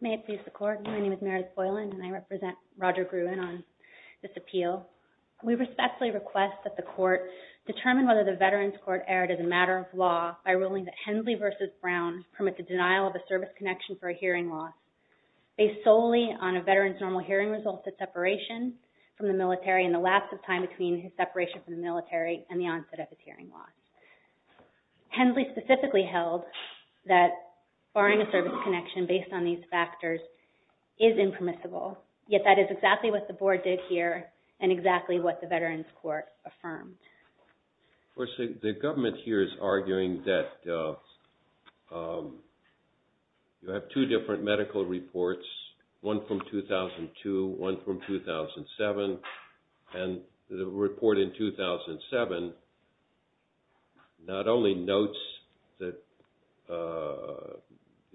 May it please the Court, my name is Meredith Boylan and I represent Roger Gruen on this appeal. We respectfully request that the Court determine whether the Veterans Court erred as a matter of law by ruling that Hensley v. Brown permit the denial of a service connection for a hearing loss based solely on a veteran's normal hearing results at separation from the military and the lapse of time between his separation from the military and the onset of his hearing loss. Hensley specifically held that barring a service connection based on these factors is impermissible, yet that is exactly what the Board did here and exactly what the Veterans Court affirmed. RUEN Of course, the government here is arguing that you have two different medical reports, one from 2002, one from 2007, and the report in 2007 not only notes the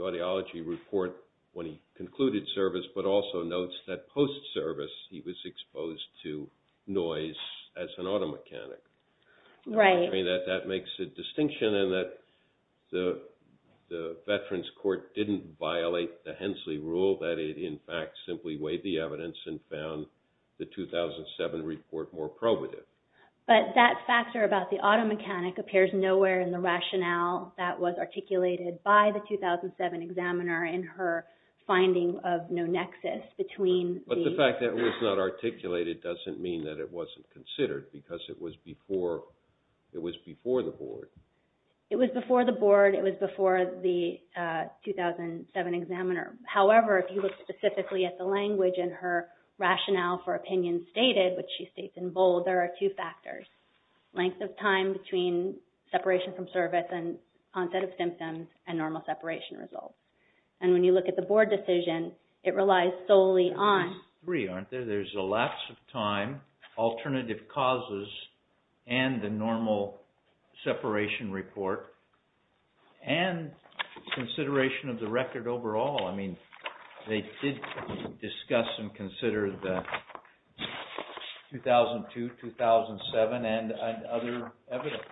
audiology report when he concluded service, but also notes that post-service he was exposed to noise as an auto mechanic. That makes a distinction in that the Veterans Court didn't violate the Hensley rule, that it in fact simply weighed the evidence and found the 2007 report more probative. But that factor about the auto mechanic appears nowhere in the rationale that was articulated by the 2007 examiner in her finding of no nexus between the... But the fact that it was not articulated doesn't mean that it wasn't considered because it was before the Board. It was before the Board, it was before the 2007 examiner. However, if you look specifically at the language in her rationale for opinion stated, which she states in bold, there are two factors. Length of time between separation from service and onset of symptoms and normal separation results. And when you look at the Board decision, it relies solely on... There's a lapse of time, alternative causes, and the normal separation report, and consideration of the record overall. I mean, they did discuss and consider the 2002, 2007, and other evidence.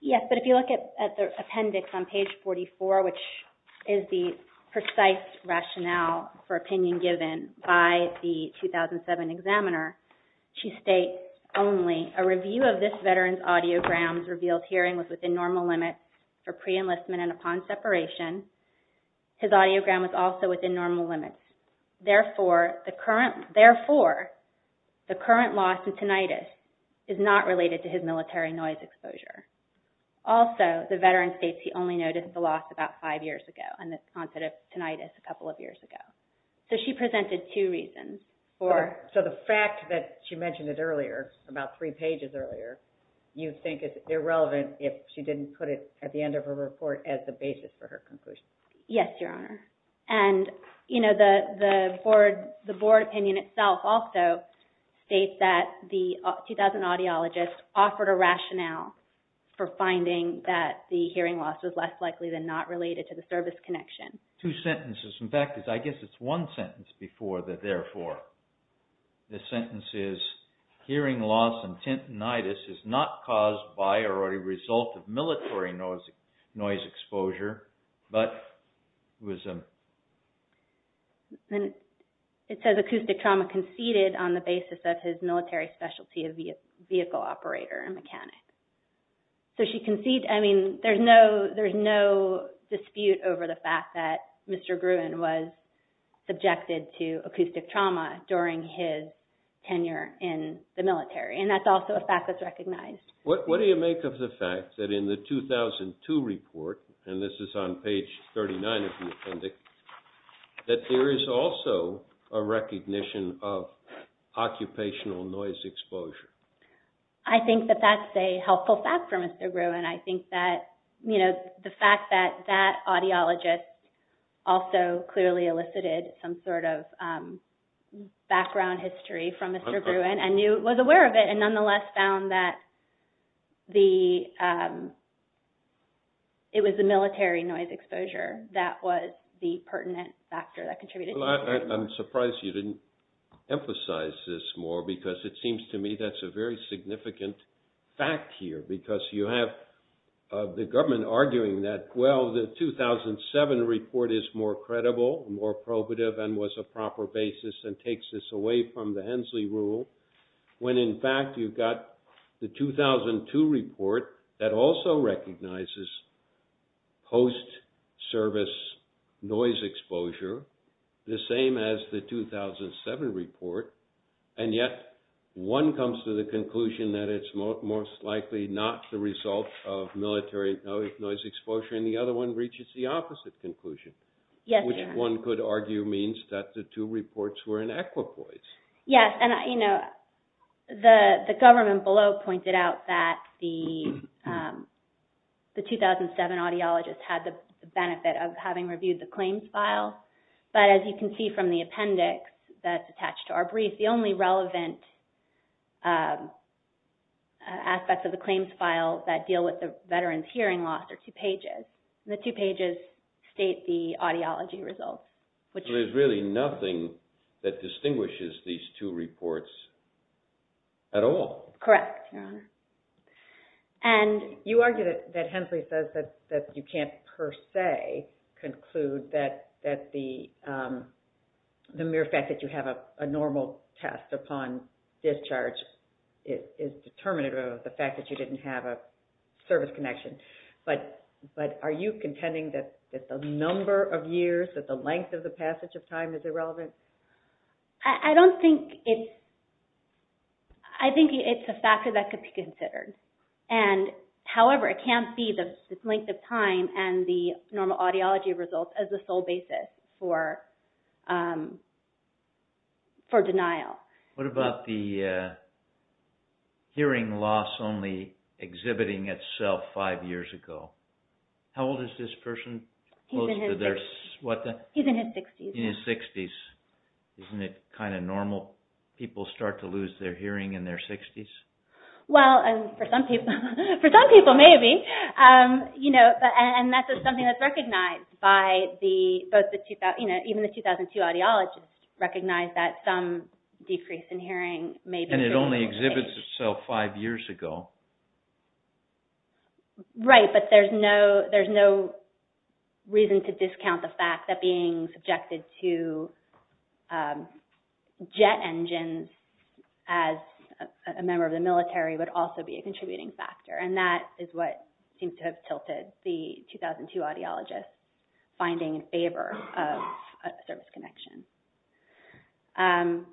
Yes, but if you look at the appendix on page 44, which is the precise rationale for opinion given by the 2007 examiner, she states only, a review of this veteran's audiograms revealed hearing was within normal limits for pre-enlistment and upon separation. His audiogram was also within normal limits. Therefore, the current loss in tinnitus is not related to his military noise exposure. Also, the veteran states he only noticed the loss about five years ago on this onset of tinnitus a couple of years ago. So she presented two reasons for... So the fact that she mentioned it earlier, about three pages earlier, you think is irrelevant if she didn't put it at the end of her report as the basis for her conclusion? Yes, Your Honor. And the Board opinion itself also states that the 2000 audiologist offered a rationale for finding that the hearing loss was less likely than not related to the service connection. Two sentences. In fact, I guess it's one sentence before the therefore. The sentence is, hearing loss and tinnitus is not caused by or a result of military noise exposure, but was... It says acoustic trauma conceded on the basis of his military specialty of vehicle operator and mechanic. So she conceded... I mean, there's no dispute over the fact that Mr. Gruen was subjected to acoustic trauma during his tenure in the military. And that's also a fact that's recognized. What do you make of the fact that in the 2002 report, and this is on page 39 of the appendix, that there is also a recognition of occupational noise exposure? I think that that's a helpful fact for Mr. Gruen. I think that the fact that that audiologist also clearly elicited some sort of background history from Mr. Gruen and was aware of it and nonetheless found that it was the military noise exposure that was the pertinent factor that contributed to... Well, I'm surprised you didn't emphasize this more, because it seems to me that's a very significant fact here, because you have the government arguing that, well, the 2007 report is more credible, more probative, and was a proper basis and takes this away from the Hensley rule, when in fact you've got the 2002 report that also recognizes post-service noise exposure, the same as the 2007 report, and yet one comes to the conclusion that it's most likely not the result of military noise exposure, and the other one reaches the opposite conclusion, which one could argue means that the two reports were in equipoise. Yes, and the government below pointed out that the 2007 audiologist had the benefit of having reviewed the claims file, but as you can see from the appendix that's attached to our brief, the only relevant aspects of the claims file that deal with the veteran's hearing loss are two pages, and the two pages state the audiology results, which... So there's really nothing that distinguishes these two reports at all. Correct, Your Honor. You argue that Hensley says that you can't per se conclude that the mere fact that you have a normal test upon discharge is determinative of the fact that you didn't have a service connection, but are you contending that the number of years, that the length of the passage of time is irrelevant? I don't think it's... I think it's a factor that could be considered, and however, it can't be the length of time and the normal audiology results as the sole basis for denial. What about the hearing loss only exhibiting itself five years ago? How old is this person? He's in his 60s. Isn't it kind of normal? People start to lose their hearing in their 60s? Well, for some people, maybe. And that's something that's recognized by the... Even the 2002 audiologists recognized that some decrease in hearing may be... And it only exhibits itself five years ago. Right, but there's no reason to discount the fact that being subjected to jet engines as a member of the military would also be a contributing factor, and that is what seems to have tilted the 2002 audiologists finding in favor of a service connection.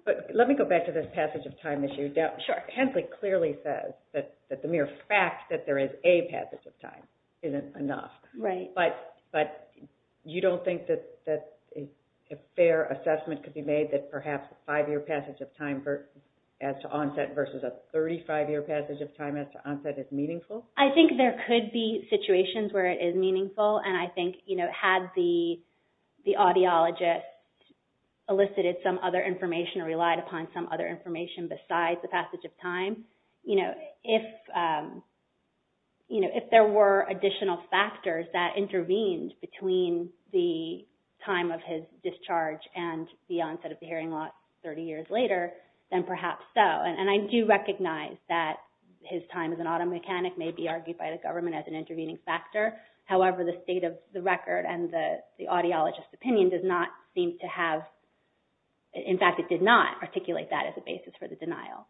But let me go back to this passage of time issue. Sure. Hensley clearly says that the mere fact that there is a passage of time isn't enough. Right. But you don't think that a fair assessment could be made that perhaps a five-year passage of time as to onset versus a 35-year passage of time as to onset is meaningful? I think there could be situations where it is meaningful, and I think had the audiologist elicited some other information or relied upon some other information besides the passage of time, if there were additional factors that intervened between the time of his discharge and the onset of the hearing loss 30 years later, then perhaps so. And I do recognize that his time as an auto mechanic may be argued by the government as an intervening factor. However, the state of the record and the audiologist's opinion does not seem to have, in fact, it did not articulate that as a basis for the denial.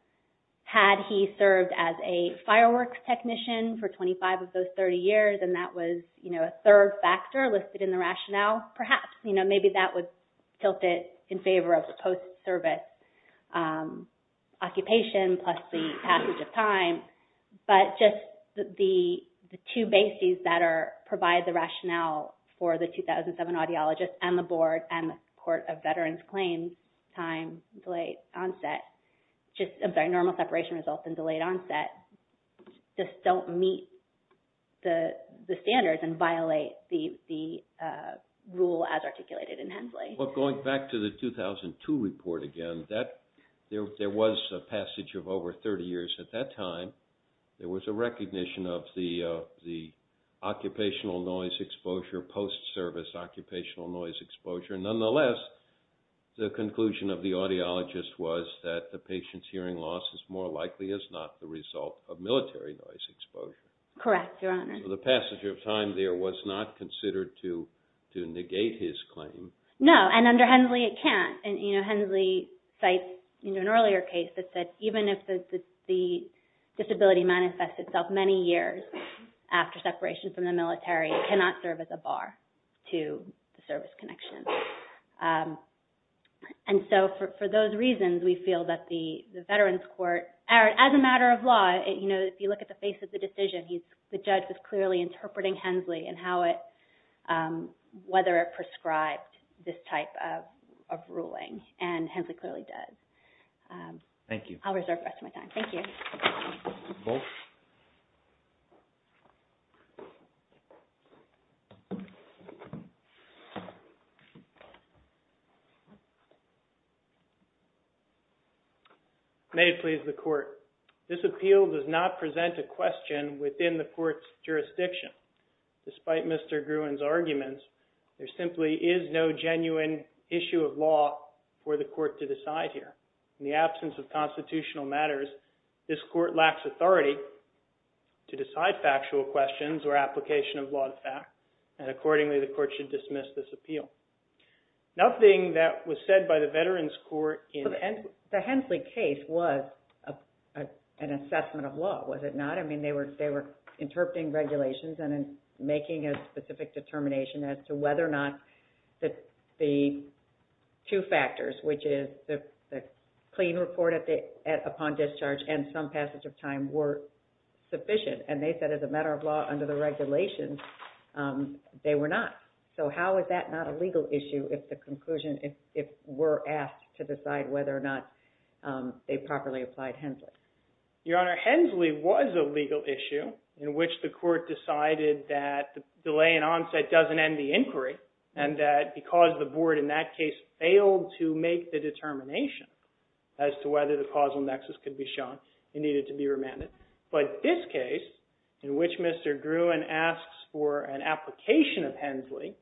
Had he served as a fireworks technician for 25 of those 30 years and that was a third factor listed in the rationale, perhaps. Maybe that would tilt it in favor of the post-service occupation plus the passage of time. But just the two bases that provide the rationale for the 2007 audiologist and the board and the Court of Veterans Claims, time, delay, onset, just a very normal separation result and delayed onset, just don't meet the standards and violate the rule as articulated in Hensley. But going back to the 2002 report again, there was a passage of over 30 years at that time. There was a recognition of the occupational noise exposure, post-service occupational noise exposure. Nonetheless, the conclusion of the audiologist was that the patient's hearing loss is more likely as not the result of military noise exposure. Correct, Your Honor. So the passage of time there was not considered to negate his claim. No. And under Hensley, it can't. And Hensley cites an earlier case that said even if the disability manifests itself many years after separation from the military, it cannot serve as a bar to the service connection. And so for those reasons, we feel that the Veterans Court, as a matter of law, if you look at the face of the decision, the judge was clearly interpreting Hensley and whether it prescribed this type of ruling. And Hensley clearly does. Thank you. I'll reserve the rest of my time. Thank you. Both. May it please the Court, this appeal does not present a question within the Court's jurisdiction. Despite Mr. Gruen's arguments, there simply is no genuine issue of law for the Court to decide here. In the absence of constitutional matters, this Court lacks authority to decide factual questions or application of law to fact. And accordingly, the Court should dismiss this appeal. Nothing that was said by the Veterans Court in Hensley. The Hensley case was an assessment of law, was it not? I mean, they were interpreting regulations and making a specific determination as to whether or not the two factors, which is the clean report upon discharge and some passage of time, were sufficient. And they said, as a matter of law, under the regulations, they were not. So how is that not a legal issue if the conclusion, if we're asked to decide whether or not they properly applied Hensley? Your Honor, Hensley was a legal issue in which the Court decided that delay in onset doesn't end the inquiry and that because the Board in that case failed to make the determination as to whether the causal nexus could be shown, it needed to be remanded. But this case, in which Mr. Gruen asks for an application of Hensley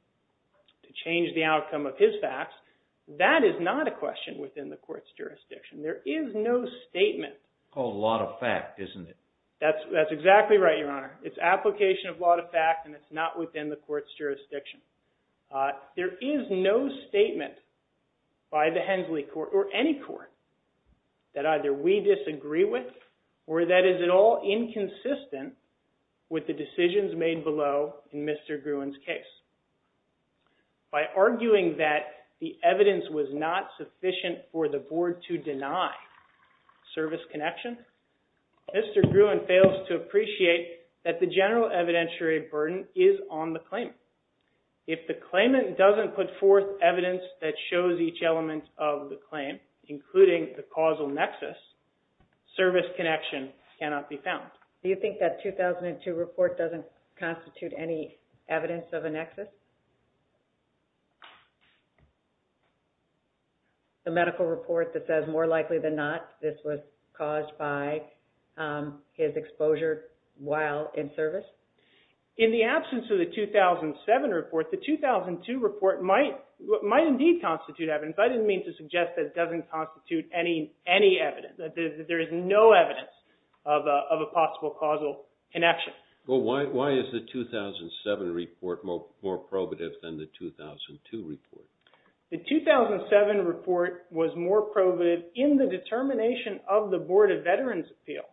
to change the outcome of his facts, that is not a question within the Court's jurisdiction. There is no statement. It's called a lot of fact, isn't it? That's exactly right, Your Honor. It's application of lot of fact and it's not within the Court's jurisdiction. There is no statement by the Hensley Court or any court that either we disagree with or that is at all inconsistent with the decisions made below in Mr. Gruen's case. By arguing that the evidence was not sufficient for the Board to deny service connection, Mr. Gruen fails to appreciate that the general evidentiary burden is on the claimant. If the claimant doesn't put forth evidence that shows each element of the claim, including the causal nexus, service connection cannot be found. Do you think that 2002 report doesn't constitute any evidence of a nexus? The medical report that says, more likely than not, this was caused by his exposure while in service? In the absence of the 2007 report, the 2002 report might indeed constitute evidence. I didn't mean to suggest that it doesn't constitute any evidence. There is no evidence of a possible causal connection. Why is the 2007 report more probative than the 2002 report? The 2007 report was more probative in the determination of the Board of Veterans Appeal,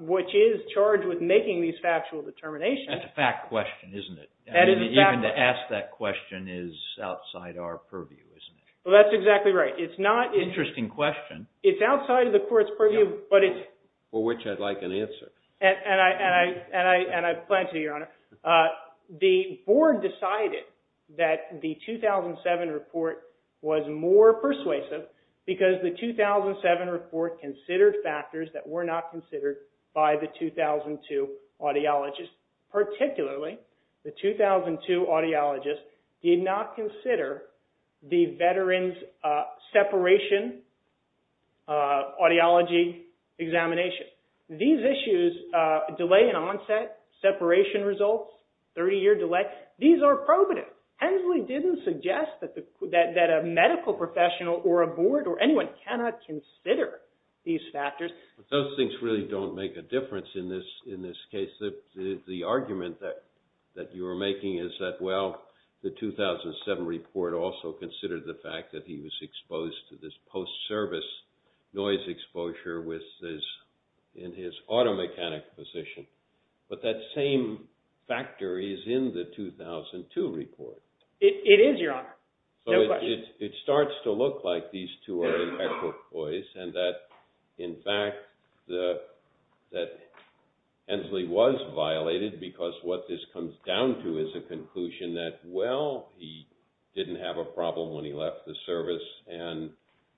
which is charged with making these factual determinations. That's a fact question, isn't it? Even to ask that question is outside our purview, isn't it? That's exactly right. Interesting question. It's outside of the court's purview, but it's... For which I'd like an answer. And I plan to, Your Honor. The board decided that the 2007 report was more persuasive because the 2007 report considered factors that were not considered by the 2002 audiologist. Particularly, the 2002 audiologist did not consider the veterans' separation audiology examination. These issues, delay in onset, separation results, 30-year delay, these are probative. Hensley didn't suggest that a medical professional or a board or anyone cannot consider these factors. Those things really don't make a difference in this case. The argument that you are making is that, well, the 2007 report also considered the fact that he was exposed to this post-service noise exposure in his auto-mechanic position. But that same factor is in the 2002 report. It is, Your Honor. It starts to look like these two are in equal place and that, in fact, that Hensley was violated because what this comes down to is a conclusion that, well, he didn't have a problem when he left the service and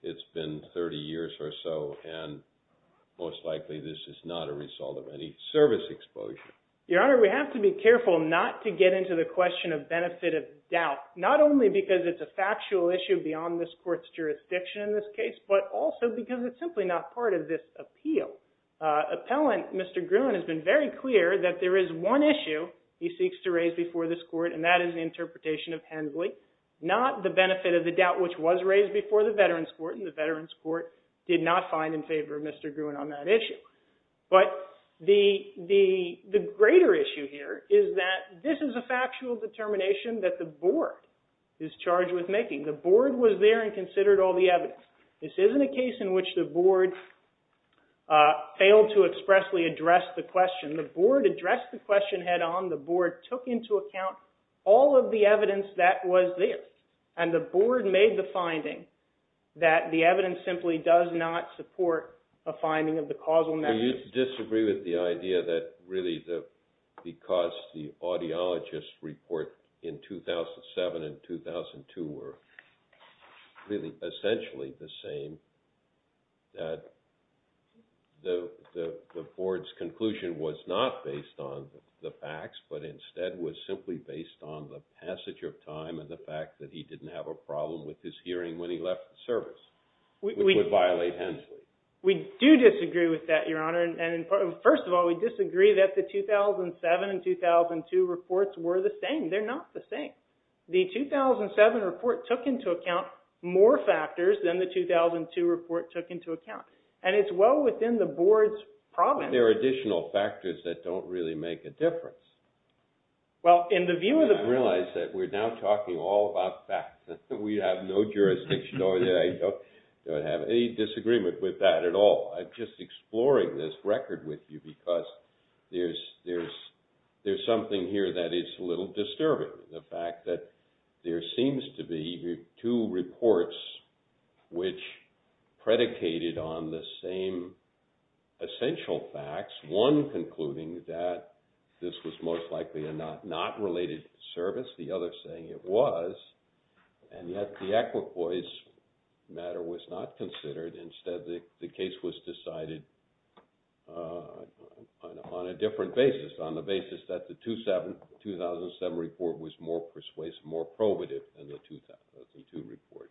it's been 30 years or so and most likely this is not a result of any service exposure. Your Honor, we have to be careful not to get into the question of benefit of doubt. Not only because it's a factual issue beyond this court's jurisdiction in this case, but also because it's simply not part of this appeal. Appellant Mr. Gruen has been very clear that there is one issue he seeks to raise before this court and that is the interpretation of Hensley. Not the benefit of the doubt which was raised before the Veterans Court and the Veterans Court did not find in favor of Mr. Gruen on that issue. But the greater issue here is that this is a factual determination that the board is charged with making. The board was there and considered all the evidence. This isn't a case in which the board failed to expressly address the question. The board addressed the question head on. The board took into account all of the evidence that was there. And the board made the finding that the evidence simply does not support a finding of the causal message. Do you disagree with the idea that really because the audiologists report in 2007 and 2002 were really essentially the same, that the board's conclusion was not based on the facts, but instead was simply based on the passage of time and the fact that he didn't have a problem with his hearing when he left the service, which would violate Hensley? We do disagree with that, Your Honor. And first of all, we disagree that the 2007 and 2002 reports were the same. They're not the same. The 2007 report took into account more factors than the 2002 report took into account. And it's well within the board's province. But there are additional factors that don't really make a difference. I realize that we're now talking all about facts. We have no jurisdiction over that. I don't have any disagreement with that at all. I'm just exploring this record with you because there's something here that is a little disturbing, the fact that there seems to be two reports which predicated on the same essential facts, one concluding that this was most likely a not related service, the other saying it was, and yet the equipoise matter was not considered. Instead, the case was decided on a different basis, on the basis that the 2007 report was more persuasive, more probative than the 2002 report.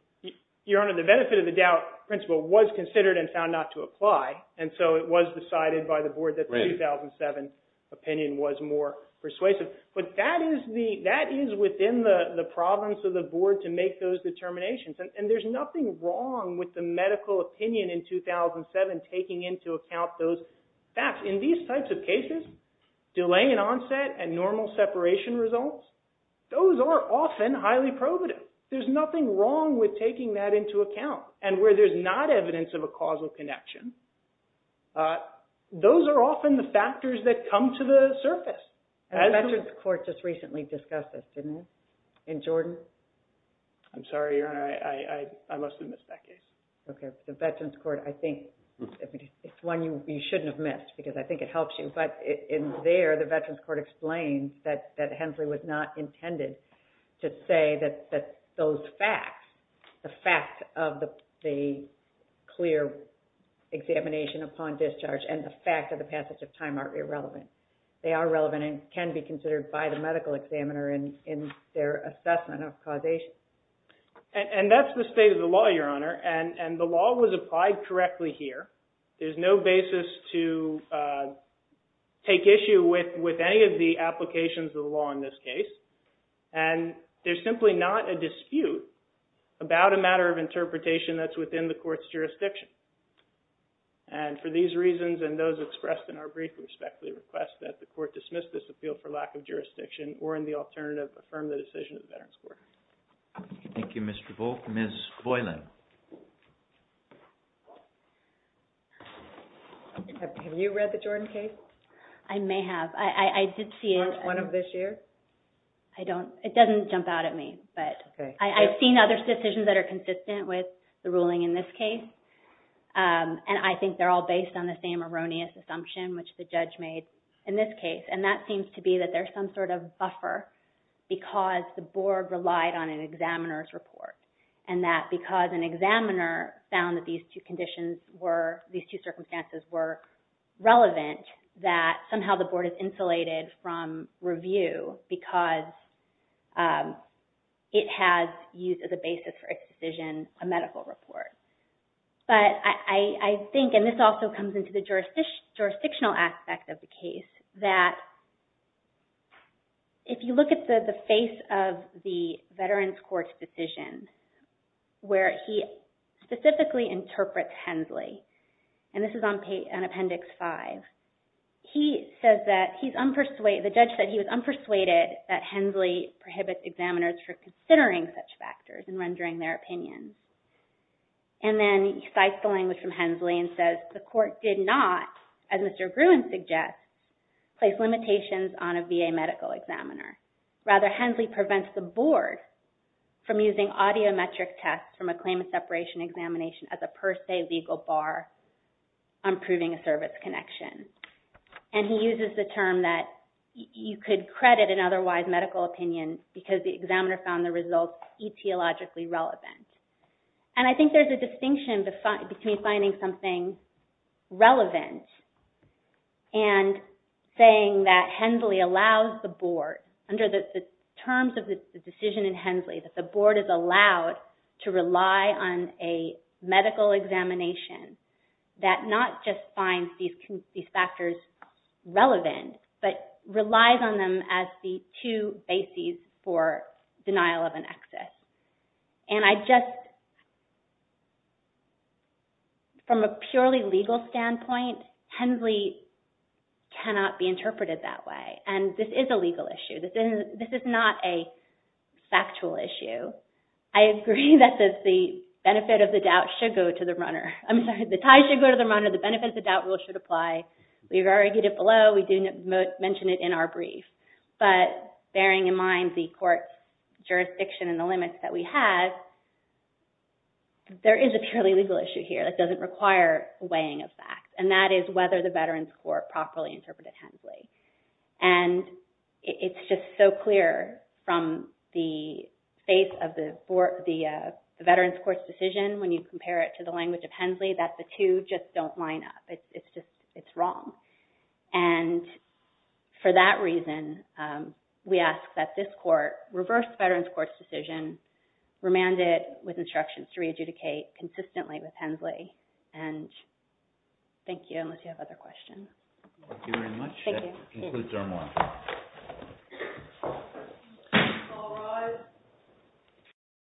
Your Honor, the benefit of the doubt principle was considered and found not to apply, and so it was decided by the board that the 2007 opinion was more persuasive. But that is within the province of the board to make those determinations. And there's nothing wrong with the medical opinion in 2007 taking into account those facts. In these types of cases, delay in onset and normal separation results, those are often highly probative. There's nothing wrong with taking that into account. And where there's not evidence of a causal connection, those are often the factors that come to the surface. The Veterans Court just recently discussed this, didn't it, in Jordan? I'm sorry, Your Honor. I must have missed that case. Okay. The Veterans Court, I think it's one you shouldn't have missed because I think it helps you. But in there, the Veterans Court explains that Hensley was not intended to say that those facts, the fact of the clear examination upon discharge and the fact of the passage of time are irrelevant. They are relevant and can be considered by the medical examiner in their assessment of causation. And that's the state of the law, Your Honor. And the law was applied correctly here. There's no basis to take issue with any of the applications of the law in this case. And there's simply not a dispute about a matter of interpretation that's within the court's jurisdiction. And for these reasons and those expressed in our brief, we respectfully request that the court dismiss this appeal for lack of jurisdiction or in the alternative, affirm the decision of the Veterans Court. Thank you, Mr. Volk. Ms. Voiland. Have you read the Jordan case? I may have. I did see it. Weren't one of this year's? I don't. It doesn't jump out at me. But I've seen other decisions that are consistent with the ruling in this case. And I think they're all based on the same erroneous assumption which the judge made in this case. And that seems to be that there's some sort of buffer because the board relied on an examiner's report. And that because an examiner found that these two circumstances were relevant, that somehow the board is insulated from review because it has used as a basis for its decision a medical report. But I think, and this also comes into the jurisdictional aspect of the case, that if you look at the face of the Veterans Court's decision, where he specifically interprets Hensley, and this is on Appendix 5, he says that he's unpersuaded, the judge said he was unpersuaded that Hensley prohibits examiners from considering such factors and rendering their opinions. And then he cites the language from Hensley and says, the court did not, as Mr. Gruen suggests, place limitations on a VA medical examiner. Rather, Hensley prevents the board from using audiometric tests from a claim of separation examination as a per se legal bar on proving a service connection. And he uses the term that you could credit an otherwise medical opinion because the examiner found the results etiologically relevant. And I think there's a distinction between finding something relevant and saying that Hensley allows the board, under the terms of the decision in Hensley, that the board is allowed to rely on a medical examination that not just finds these factors relevant, but relies on them as the two bases for denial of an excess. And I just, from a purely legal standpoint, Hensley cannot be interpreted that way. And this is a legal issue. This is not a factual issue. I agree that the benefit of the doubt should go to the runner. I'm sorry, the tie should go to the runner. The benefit of the doubt rule should apply. We've argued it below. We do mention it in our brief. But bearing in mind the court's jurisdiction and the limits that we have, there is a purely legal issue here that doesn't require weighing of facts. And that is whether the Veterans Court properly interpreted Hensley. And it's just so clear from the face of the Veterans Court's decision when you compare it to the language of Hensley, that the two just don't line up. It's just wrong. And for that reason, we ask that this court reverse Veterans Court's decision, remand it with instructions to re-adjudicate consistently with Hensley. And thank you, unless you have other questions. Thank you very much. That concludes our morning.